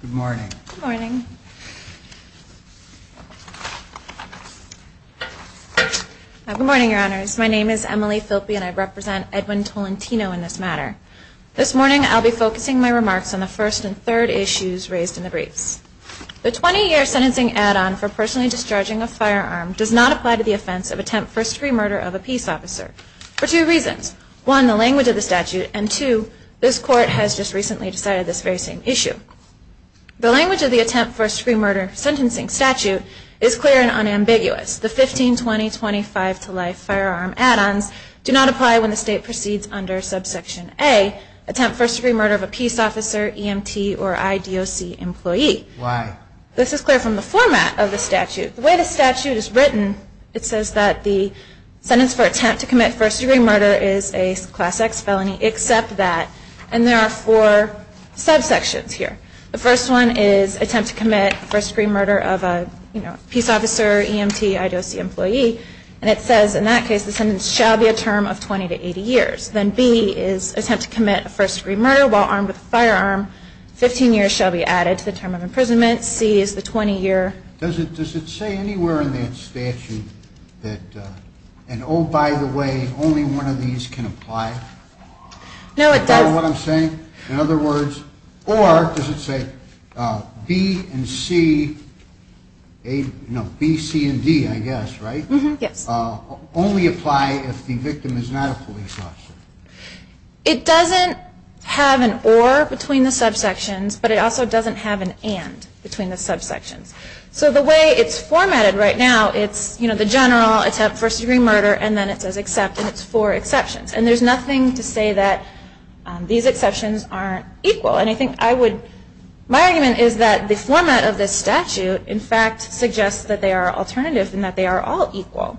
Good morning. Good morning. Good morning, Your Honors. My name is Emily Philppe and I represent Edwin Tolentino in this matter. This morning I'll be focusing my remarks on the first and third issues raised in the briefs. The 20-year sentencing add-on for personally discharging a firearm does not apply to the offense of attempt first-degree murder of a peace officer for two reasons. One, the language of the statute, and two, this Court has just recently decided this very same issue. The language of the attempt first-degree murder sentencing statute is clear and unambiguous. The 15, 20, 25 to life firearm add-ons do not apply when the State proceeds under subsection A, attempt first-degree murder of a peace officer, EMT, or IDOC employee. Why? This is clear from the format of the statute. The way the statute is written, it says that the sentence for attempt to commit first-degree murder is a class X felony except that, and there are four subsections here. The first one is attempt to commit first-degree murder of a peace officer, EMT, IDOC employee, and it says in that case the sentence shall be a term of 20 to 80 years. Then B is attempt to commit first-degree murder while armed with a firearm. Fifteen years shall be added to the term of imprisonment. C is the 20-year sentence. Does it say anywhere in that statute that, and oh, by the way, only one of these can apply? No, it doesn't. Is that what I'm saying? In other words, or does it say B and C, no, B, C, and D, I guess, right? Yes. Does the term only apply if the victim is not a police officer? It doesn't have an or between the subsections, but it also doesn't have an and between the subsections. So the way it's formatted right now, it's, you know, the general attempt first-degree murder, and then it says except, and it's four exceptions. And there's nothing to say that these exceptions aren't equal. And I think I would, my argument is that the format of this statute, in fact, suggests that they are alternative and that they are all equal.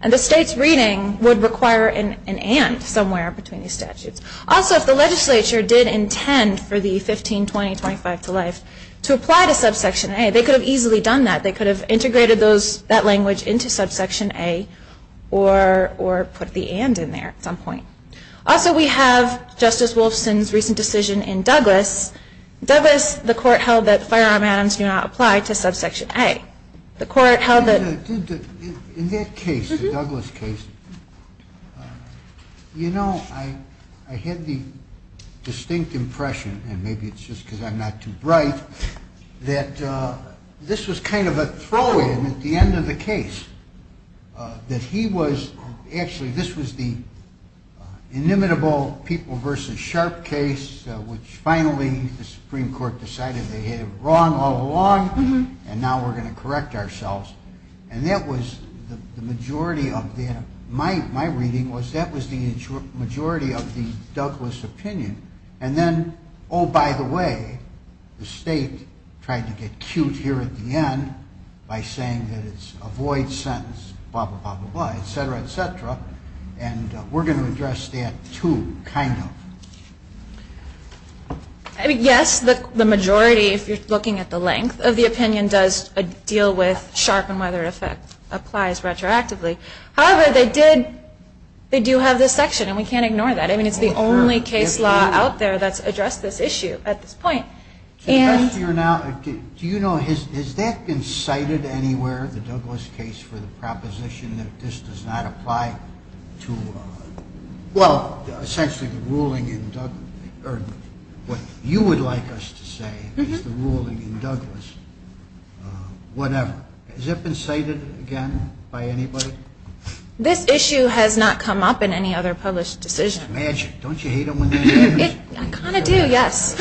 And the state's reading would require an and somewhere between these statutes. Also, if the legislature did intend for the 15, 20, 25 to life to apply to subsection A, they could have easily done that. They could have integrated those, that language into subsection A or put the and in there at some point. Also we have Justice Wolfson's recent decision in Douglas. Douglas, the court held that firearm add-ons do not apply to subsection A. The court held that... In that case, the Douglas case, you know, I had the distinct impression, and maybe it's just because I'm not too bright, that this was kind of a throw-in at the end of the case. That he was, actually this was the inimitable people versus sharp case, which finally the court decided to follow along, and now we're going to correct ourselves. And that was the majority of the, my reading was that was the majority of the Douglas opinion. And then, oh, by the way, the state tried to get cute here at the end by saying that it's a void sentence, blah, blah, blah, blah, blah, et cetera, et cetera. And we're going to address that too, kind of. I mean, yes, the majority, if you're looking at the length of the opinion, does deal with sharp and whether it applies retroactively. However, they did, they do have this section, and we can't ignore that. I mean, it's the only case law out there that's addressed this issue at this point. The question now, do you know, has that been cited anywhere, the Douglas case, for the ruling in Douglas, or what you would like us to say is the ruling in Douglas, whatever? Has that been cited again by anybody? This issue has not come up in any other published decision. Magic. Don't you hate them when they do this? I kind of do, yes.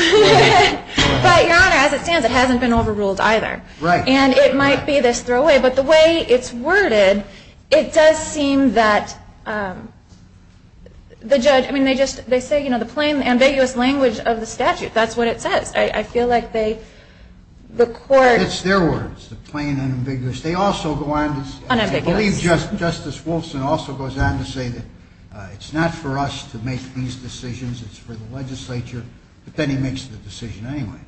But, Your Honor, as it stands, it hasn't been overruled either. Right. And it might be this throwaway, but the way it's worded, it does seem that the judge, I mean, they just, they say, you know, the plain, ambiguous language of the statute, that's what it says. I feel like they, the court. It's their words, the plain and ambiguous. They also go on to say. Unambiguous. I believe Justice Wolfson also goes on to say that it's not for us to make these decisions, it's for the legislature, but then he makes the decision anyway.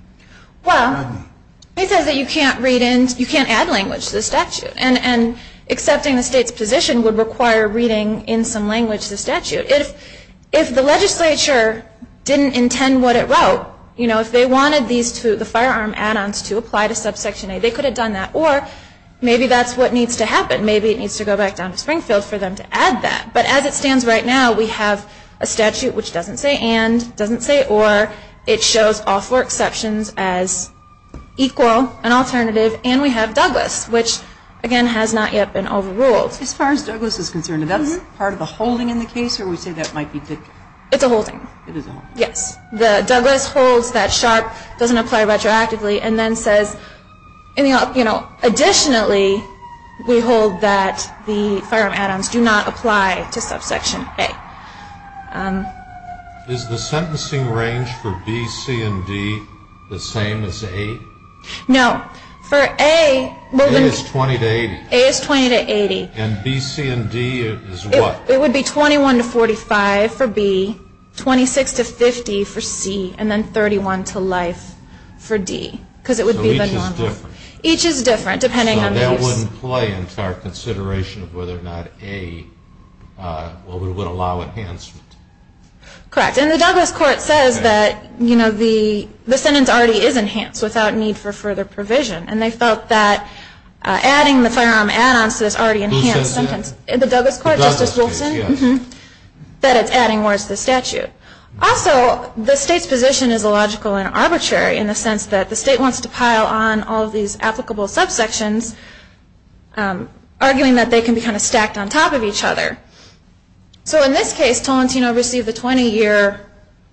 Well, he says that you can't read in, you can't add language to the statute, and accepting the state's position would require reading in some language the statute. If the legislature didn't intend what it wrote, you know, if they wanted these two, the firearm add-ons to apply to subsection A, they could have done that. Or maybe that's what needs to happen. Maybe it needs to go back down to Springfield for them to add that. But as it stands right now, we have a statute which doesn't say and, doesn't say or, it shows all four exceptions as equal, an alternative, and we have Douglas, which, again, has not yet been overruled. As far as Douglas is concerned, is that part of the holding in the case, or would you say that might be? It's a holding. It is a holding. Yes. Douglas holds that sharp doesn't apply retroactively and then says, you know, additionally we hold that the firearm add-ons do not apply to subsection A. Is the sentencing range for B, C, and D the same as A? No. For A, A is 20 to 80. A is 20 to 80. And B, C, and D is what? It would be 21 to 45 for B, 26 to 50 for C, and then 31 to life for D. So each is different. Each is different, depending on the use. So that wouldn't play into our consideration of whether or not A would allow enhancement. Correct. And the Douglas court says that, you know, the sentence already is enhanced without need for further provision, and they felt that adding the firearm add-ons to this already enhanced sentence in the Douglas court, Justice Wilson, that it's adding more to the statute. Also, the state's position is illogical and arbitrary in the sense that the state wants to pile on all of these applicable subsections, arguing that they can be kind of stacked on top of each other. So in this case, Tolentino received a 20-year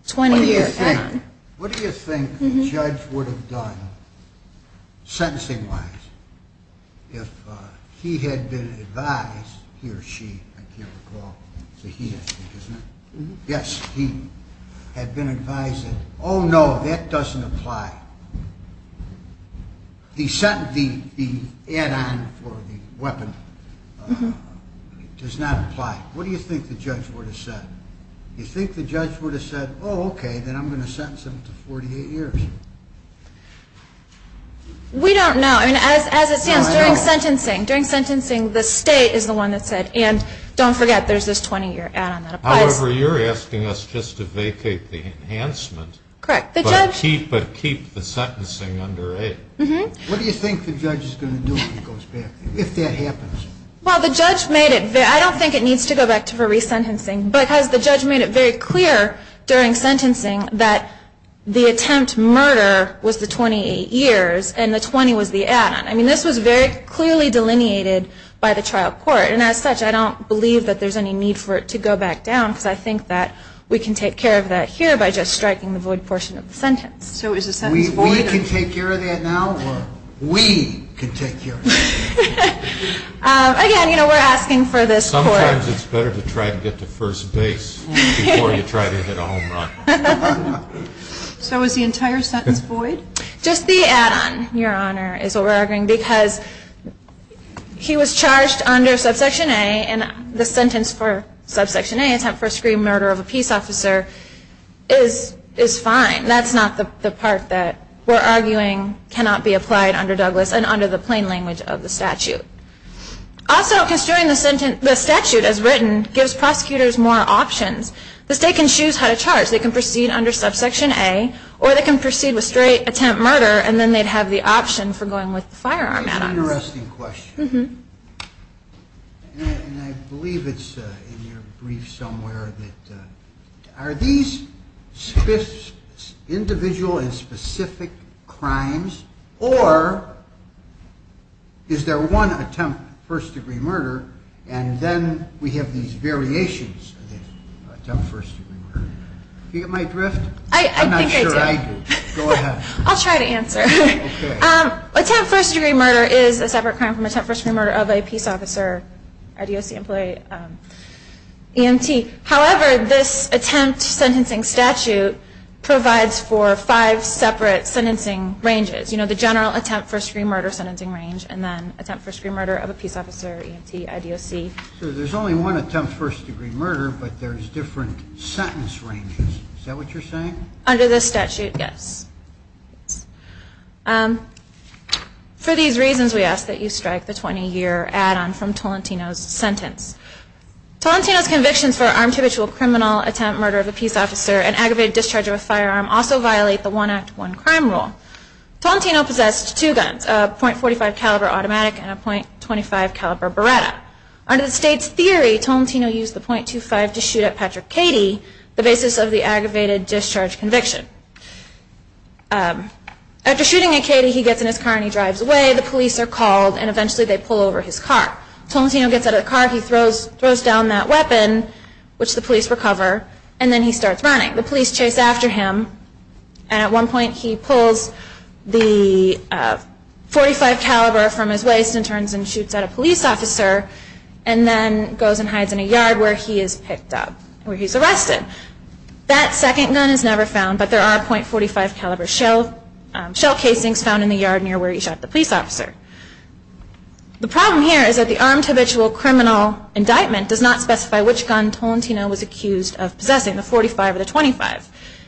sentence. What do you think the judge would have done, sentencing-wise, if he had been advised, he or she, I can't recall, it's a he or she, isn't it? Yes. He had been advised that, oh, no, that doesn't apply. The add-on for the weapon does not apply. What do you think the judge would have said? You think the judge would have said, oh, okay, then I'm going to sentence him to 48 years? We don't know. I mean, as it stands, during sentencing, the state is the one that said, and don't forget, there's this 20-year add-on that applies. However, you're asking us just to vacate the enhancement. Correct. But keep the sentencing under 8. What do you think the judge is going to do if that happens? Well, the judge made it very clear, I don't think it needs to go back to re-sentencing, but the judge made it very clear during sentencing that the attempt to murder was the 28 years and the 20 was the add-on. I mean, this was very clearly delineated by the trial court. And as such, I don't believe that there's any need for it to go back down because I think that we can take care of that here by just striking the void portion of the sentence. So is the sentence void? We can take care of that now? We can take care of that. Again, you know, we're asking for this court. Sometimes it's better to try to get to first base before you try to hit a home run. So is the entire sentence void? Just the add-on, Your Honor, is what we're arguing because he was charged under subsection A and the sentence for subsection A, attempt first degree murder of a peace officer, is fine. That's not the part that we're arguing cannot be applied under Douglas and under the plain language of the statute. Also, construing the statute as written gives prosecutors more options. The state can choose how to charge. They can proceed under subsection A or they can proceed with straight attempt murder and then they'd have the option for going with the firearm add-ons. Interesting question. And I believe it's in your brief somewhere that are these individual and specific crimes or is there one attempt first degree murder and then we have these variations of the attempt first degree murder? Do you get my drift? I think I do. I'm not sure I do. Go ahead. I'll try to answer. Attempt first degree murder is a separate crime from attempt first degree murder of a peace officer, IDOC employee, EMT. However, this attempt sentencing statute provides for five separate sentencing ranges. You know, the general attempt first degree murder sentencing range and then attempt first degree murder of a peace officer, EMT, IDOC. So there's only one attempt first degree murder but there's different sentence ranges. Is that what you're saying? Under this statute, yes. For these reasons, we ask that you strike the 20-year add-on from Tolentino's sentence. Tolentino's convictions for armed habitual criminal attempt murder of a peace officer and aggravated discharge of a firearm also violate the one act, one crime rule. Tolentino possessed two guns, a .45 caliber automatic and a .25 caliber Beretta. Under the state's theory, Tolentino used the .25 to shoot at Patrick Cady, the basis of the aggravated discharge conviction. After shooting at Cady, he gets in his car and he drives away. The police are called and eventually they pull over his car. Tolentino gets out of the car, he throws down that weapon, which the police recover, and then he starts running. The police chase after him and at one point he pulls the .45 caliber from his waist and turns and shoots at a police officer and then goes and hides in a yard where he is picked up, where he's arrested. That second gun is never found, but there are .45 caliber shell casings found in the yard near where he shot the police officer. The problem here is that the armed habitual criminal indictment does not specify which gun Tolentino was accused of possessing, the .45 or the .25.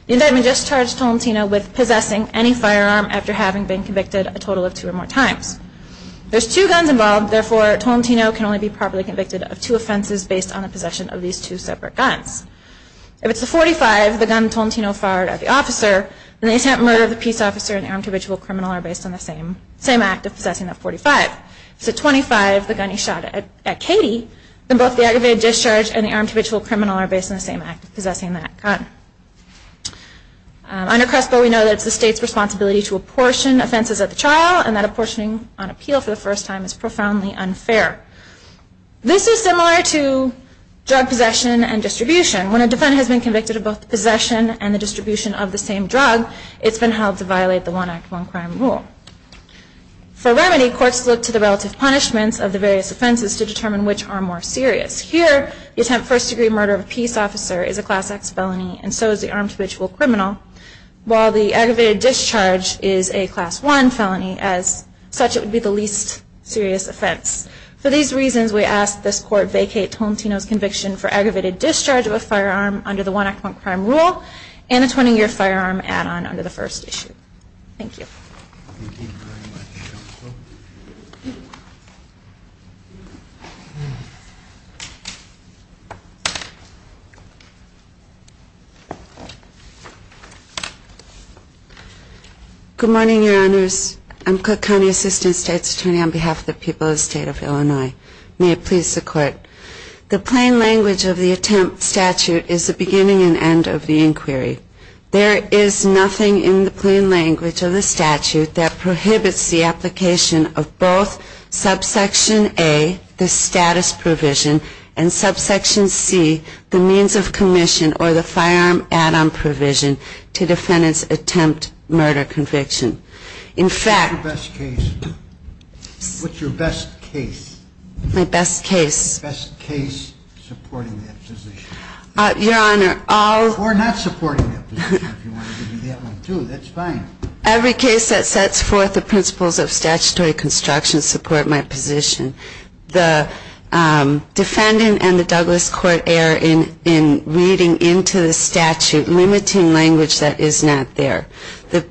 The indictment discharged Tolentino with possessing any firearm after having been convicted a total of two or more times. There's two guns involved, therefore Tolentino can only be properly convicted of two offenses based on the possession of these two separate guns. If it's the .45, the gun Tolentino fired at the officer, then the attempt to murder the peace officer and the armed habitual criminal are based on the same act of possessing that .45. If it's the .25, the gun he shot at Katie, then both the aggravated discharge and the armed habitual criminal are based on the same act of possessing that gun. Under CRESPO we know that it's the state's responsibility to apportion offenses at the trial and that apportioning on appeal for the first time is profoundly unfair. This is similar to drug possession and distribution. When a defendant has been convicted of both possession and the distribution of the same drug, it's been held to violate the one act, one crime rule. For remedy, courts look to the relative punishments of the various offenses to determine which are more serious. Here, the attempt first degree murder of a peace officer is a Class X felony and so is the armed habitual criminal. While the aggravated discharge is a Class I felony, as such it would be the least serious offense. For these reasons, we ask that this court vacate Tomtino's conviction for aggravated discharge of a firearm under the one act, one crime rule and a 20-year firearm add-on under the first issue. Thank you. Thank you very much, Counsel. Good morning, Your Honors. I'm Cook County Assistant State's Attorney on behalf of the people of the State of Illinois. May it please the Court. The plain language of the attempt statute is the beginning and end of the inquiry. There is nothing in the plain language of the statute that prohibits the application of both subsection A, the status provision, and subsection C, the means of commission or the firearm add-on provision to defendants' attempt murder conviction. What's your best case? My best case? Best case supporting that position. Your Honor, I'll… Or not supporting that position if you wanted to do that one, too. That's fine. Every case that sets forth the principles of statutory construction support my position. The defendant and the Douglas Court err in reading into the statute, limiting language that is not there. The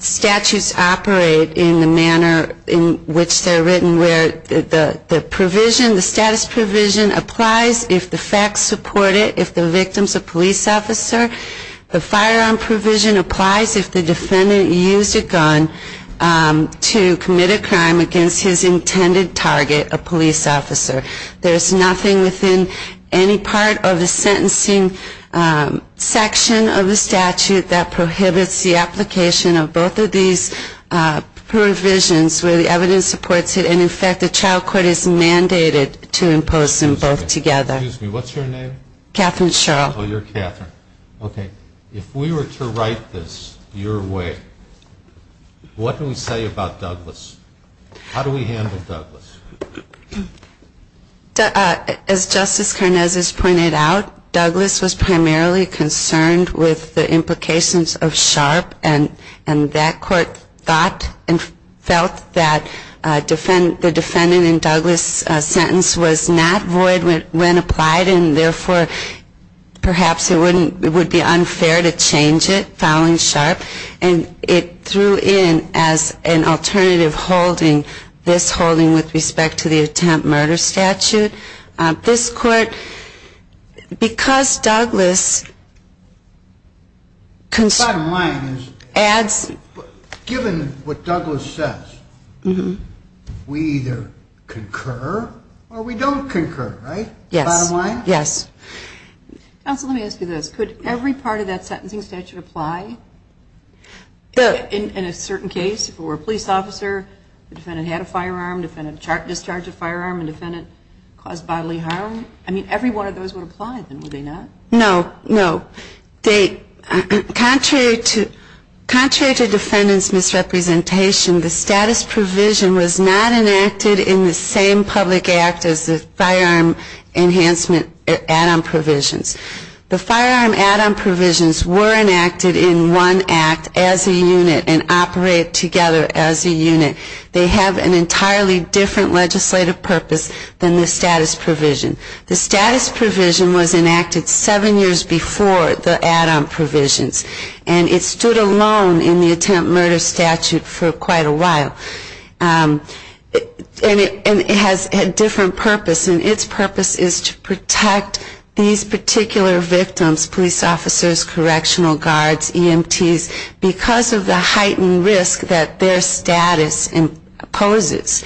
statutes operate in the manner in which they're written, where the provision, the status provision, applies if the facts support it, if the victim's a police officer. The firearm provision applies if the defendant used a gun to commit a crime against his intended target, a police officer. There's nothing within any part of the sentencing section of the statute that prohibits the application of both of these provisions where the evidence supports it. And, in fact, the trial court is mandated to impose them both together. Excuse me. What's your name? Catherine Sherrill. Oh, you're Catherine. Okay. If we were to write this your way, what do we say about Douglas? How do we handle Douglas? As Justice Karnes has pointed out, Douglas was primarily concerned with the implications of Sharp, and that court thought and felt that the defendant in Douglas's sentence was not void when applied and, therefore, perhaps it would be unfair to change it, filing Sharp, and it threw in as an alternative holding this holding with respect to the attempt murder statute. This court, because Douglas adds to it, we either concur or we don't concur, right? Yes. Bottom line? Yes. Counsel, let me ask you this. Could every part of that sentencing statute apply? In a certain case, if it were a police officer, the defendant had a firearm, defendant discharged a firearm, and defendant caused bodily harm? I mean, every one of those would apply, then, would they not? No, no. Contrary to defendant's misrepresentation, the status provision was not enacted in the same public act as the firearm enhancement add-on provisions. The firearm add-on provisions were enacted in one act as a unit and operate together as a unit. They have an entirely different legislative purpose than the status provision. The status provision was enacted seven years before the add-on provisions, and it stood alone in the attempt murder statute for quite a while. And it has a different purpose, and its purpose is to protect these particular victims, police officers, correctional guards, EMTs, because of the heightened risk that their status poses.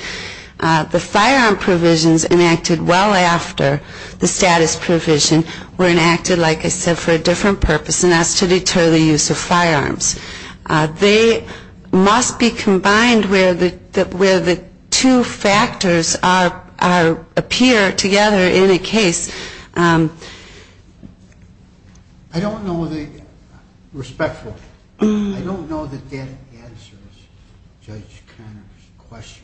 The firearm provisions enacted well after the status provision were enacted, like I said, for a different purpose, and that's to deter the use of firearms. They must be combined where the two factors appear together in a case. I don't know the ‑‑ respectful. I don't know that that answers Judge Conner's question.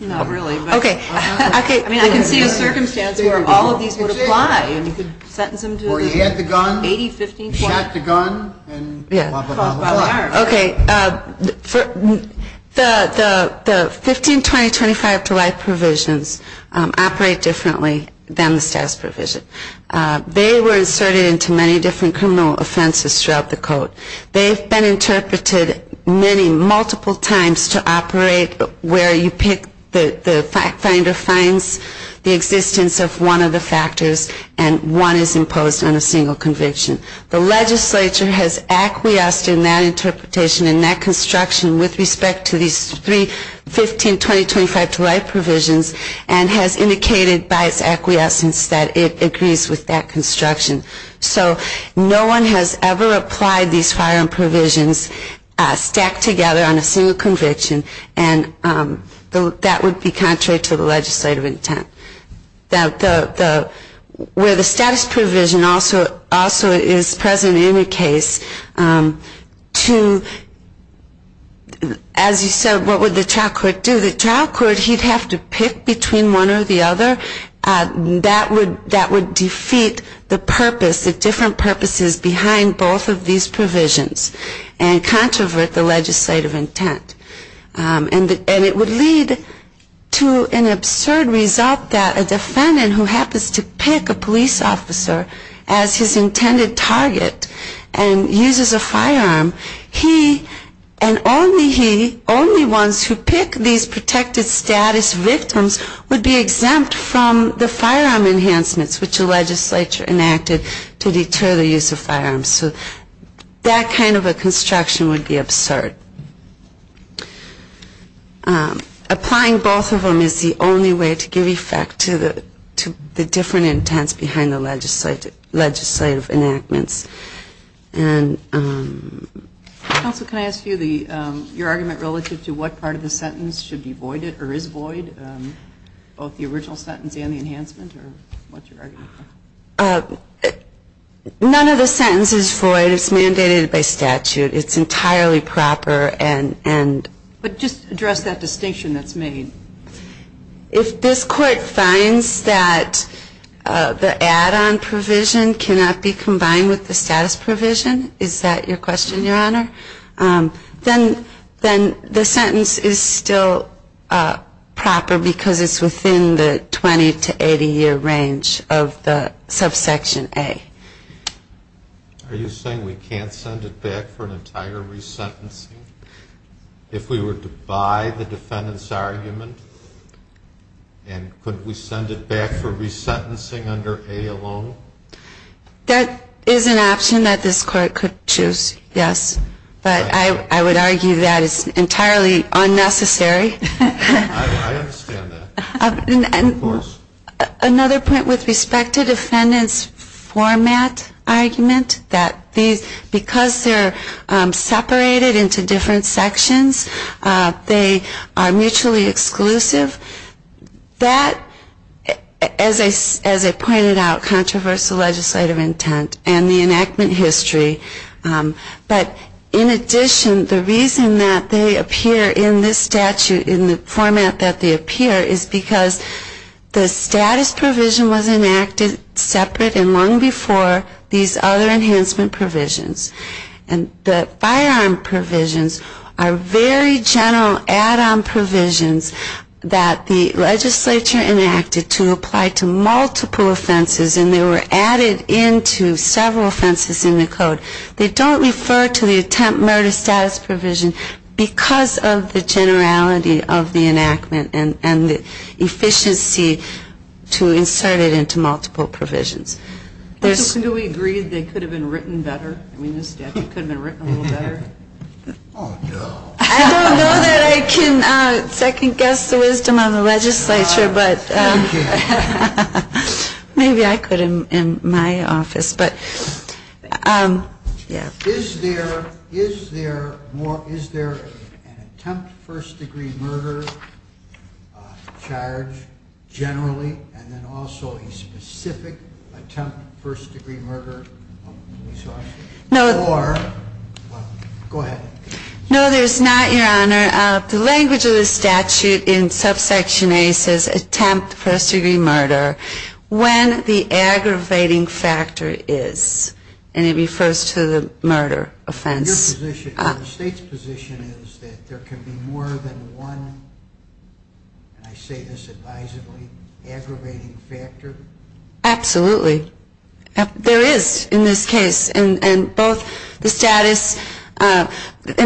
Not really. Okay. I mean, I can see a circumstance where all of these would apply, and you could sentence them to 80, 15, 20. Or you had the gun, you shot the gun, and blah, blah, blah. Okay. The 15, 20, 25‑to‑life provisions operate differently than the status provision. They were inserted into many different criminal offenses throughout the code. They've been interpreted many, multiple times to operate where you pick the ‑‑ the fact finder finds the existence of one of the factors, and one is imposed on a single conviction. The legislature has acquiesced in that interpretation and that construction with respect to these three 15, 20, 25‑to‑life provisions, and has indicated by its acquiescence that it agrees with that construction. So no one has ever applied these firearm provisions stacked together on a single conviction, and that would be contrary to the legislative intent. The ‑‑ where the status provision also is present in the case to, as you said, what would the trial court do? The trial court, he'd have to pick between one or the other. That would defeat the purpose, the different purposes behind both of these provisions and controvert the legislative intent. And it would lead to an absurd result that a defendant who happens to pick a police officer as his intended target and uses a firearm, he, and only he, to pick these protected status victims would be exempt from the firearm enhancements which the legislature enacted to deter the use of firearms. So that kind of a construction would be absurd. Applying both of them is the only way to give effect to the different intents behind the legislative enactments. Counsel, can I ask you your argument relative to what part of the sentence should be voided or is void, both the original sentence and the enhancement, or what's your argument? None of the sentence is void. It's mandated by statute. It's entirely proper and ‑‑ But just address that distinction that's made. If this court finds that the add‑on provision cannot be combined with the statute, with the status provision, is that your question, Your Honor? Then the sentence is still proper because it's within the 20 to 80 year range of the subsection A. Are you saying we can't send it back for an entire resentencing if we were to buy the defendant's argument? And could we send it back for resentencing under A alone? That is an option that this court could choose, yes. But I would argue that is entirely unnecessary. I understand that. Of course. Another point with respect to defendant's format argument, that because they're separated into different sections, they are mutually exclusive, that, as I pointed out, controversial legislative intent and the enactment history. But in addition, the reason that they appear in this statute in the format that they appear is because the status provision was enacted separate and long before these other enhancement provisions. And the firearm provisions are very general add‑on provisions that the legislature enacted to apply to multiple offenses and they were added into several offenses in the code. They don't refer to the attempt murder status provision because of the generality of the enactment and the efficiency to insert it into multiple provisions. Do we agree they could have been written better? I mean, this statute could have been written a little better. Oh, no. I don't know that I can second guess the wisdom of the legislature. No, you can't. Maybe I could in my office. Is there an attempt first‑degree murder charge generally and then also a specific attempt first‑degree murder? Go ahead. No, there's not, Your Honor. The language of the statute in subsection A says attempt first‑degree murder when the aggravating factor is, and it refers to the murder offense. Your position or the State's position is that there can be more than one, and I say this advisably, aggravating factor? Absolutely. There is in this case and both the status, and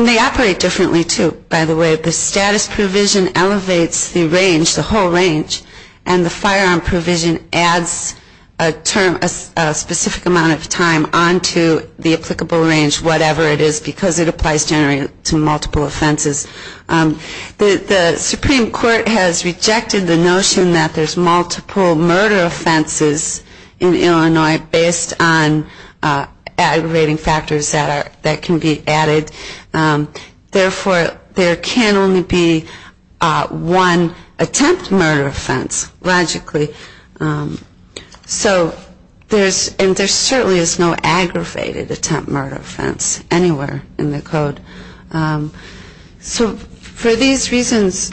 they operate differently, too, by the way. The status provision elevates the range, the whole range, and the firearm provision adds a specific amount of time onto the applicable range, whatever it is, because it applies generally to multiple offenses. The Supreme Court has rejected the notion that there's multiple murder offenses in Illinois based on aggravating factors that can be added. Therefore, there can only be one attempt murder offense, logically. So there's, and there certainly is no aggravated attempt murder offense anywhere in the code. So for these reasons,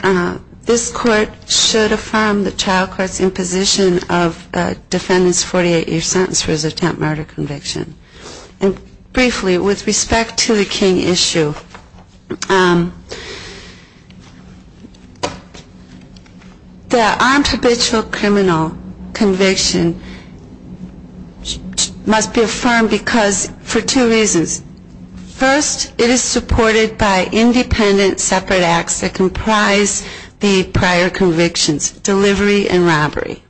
this court should affirm the trial court's imposition of defendant's 48‑year sentence for his attempt murder conviction. And briefly, with respect to the King issue, the armed habitual criminal conviction must be affirmed because for two reasons. First, it is supported by independent separate acts that comprise the prior convictions, delivery and robbery.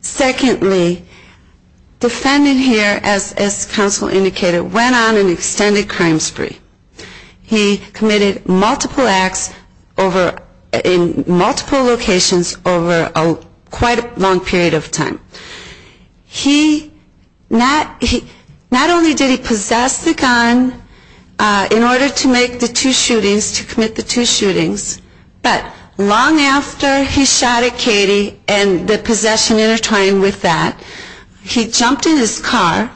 Secondly, defendant here, as counsel indicated, went on an extended crime spree. He committed multiple acts in multiple locations over quite a long period of time. He not only did he possess the gun in order to make the two shootings, to commit the two shootings, but long after he shot at Katie and the possession intertwined with that, he jumped in his car,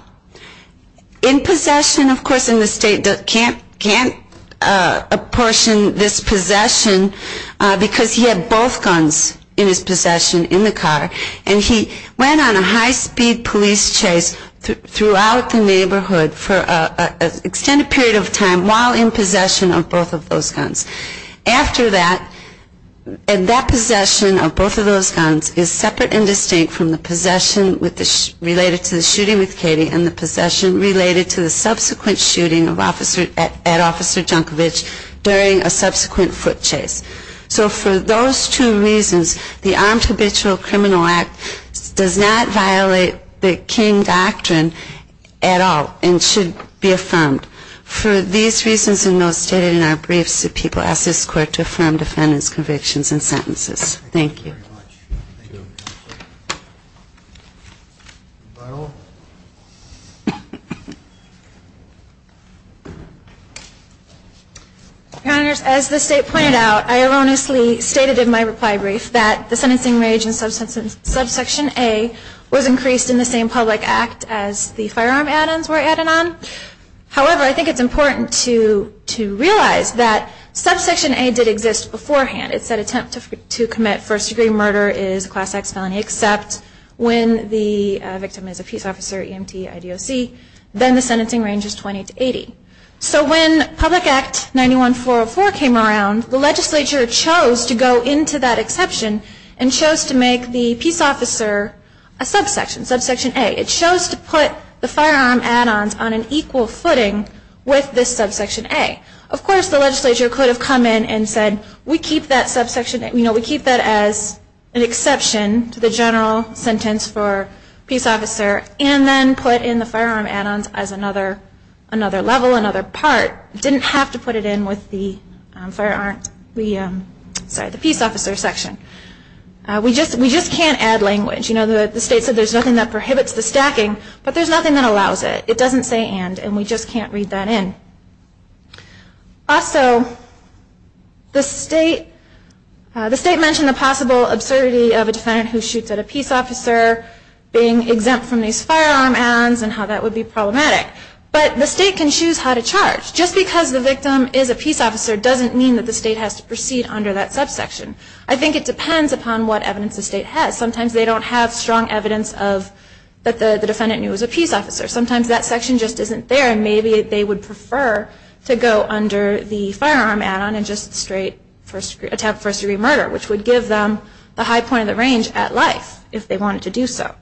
in possession, of course, in the state, can't apportion this possession, because he had both guns in his possession in the car, and he went on a high‑speed police chase throughout the neighborhood for an extended period of time while in possession of both of those guns. After that, that possession of both of those guns is separate and distinct from the possession related to the shooting with Katie and the possession related to the subsequent shooting at Officer Junkovich during a subsequent foot chase. So for those two reasons, the armed habitual criminal act does not violate the King doctrine at all and should be affirmed. For these reasons and those stated in our briefs, the people ask this court to affirm defendant's convictions and sentences. Thank you. As the state pointed out, I erroneously stated in my reply brief that the sentencing range in subsection A was increased in the same public act as the firearm add-ons were added on. However, I think it's important to realize that subsection A did exist beforehand. It said attempt to commit first degree murder is a class X felony, except when the victim is a peace officer, EMT, IDOC. Then the sentencing range is 20 to 80. So when Public Act 91404 came around, the legislature chose to go into that exception and chose to make the peace officer a subsection, subsection A. It chose to put the firearm add-ons on an equal footing with this subsection A. Of course, the legislature could have come in and said, we keep that as an exception to the general sentence for peace officer and then put in the firearm add-ons as another level, another part. It didn't have to put it in with the peace officer section. We just can't add language. You know, the state said there's nothing that prohibits the stacking, but there's nothing that allows it. It doesn't say and, and we just can't read that in. Also, the state mentioned the possible absurdity of a defendant who shoots at a peace officer being exempt from these firearm add-ons and how that would be problematic. But the state can choose how to charge. Just because the victim is a peace officer doesn't mean that the state has to proceed under that subsection. I think it depends upon what evidence the state has. Sometimes they don't have strong evidence that the defendant knew he was a peace officer. Sometimes that section just isn't there and maybe they would prefer to go under the firearm add-on and just straight attempt first degree murder, which would give them the high point of the range at life if they wanted to do so.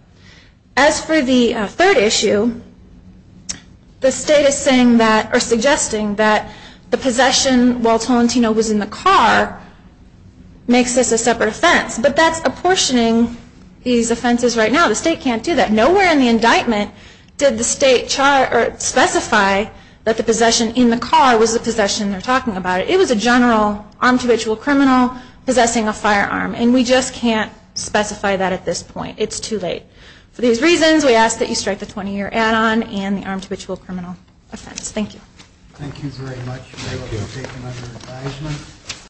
As for the third issue, the state is suggesting that the possession while Tolentino was in the car makes this a separate offense, but that's apportioning these offenses right now. The state can't do that. Nowhere in the indictment did the state specify that the possession in the car was the possession. They're talking about it. It was a general armed habitual criminal possessing a firearm, and we just can't specify that at this point. It's too late. For these reasons, we ask that you strike the 20-year add-on and the armed habitual criminal offense. Thank you. Thank you very much. Thank you. We'll take another advisement.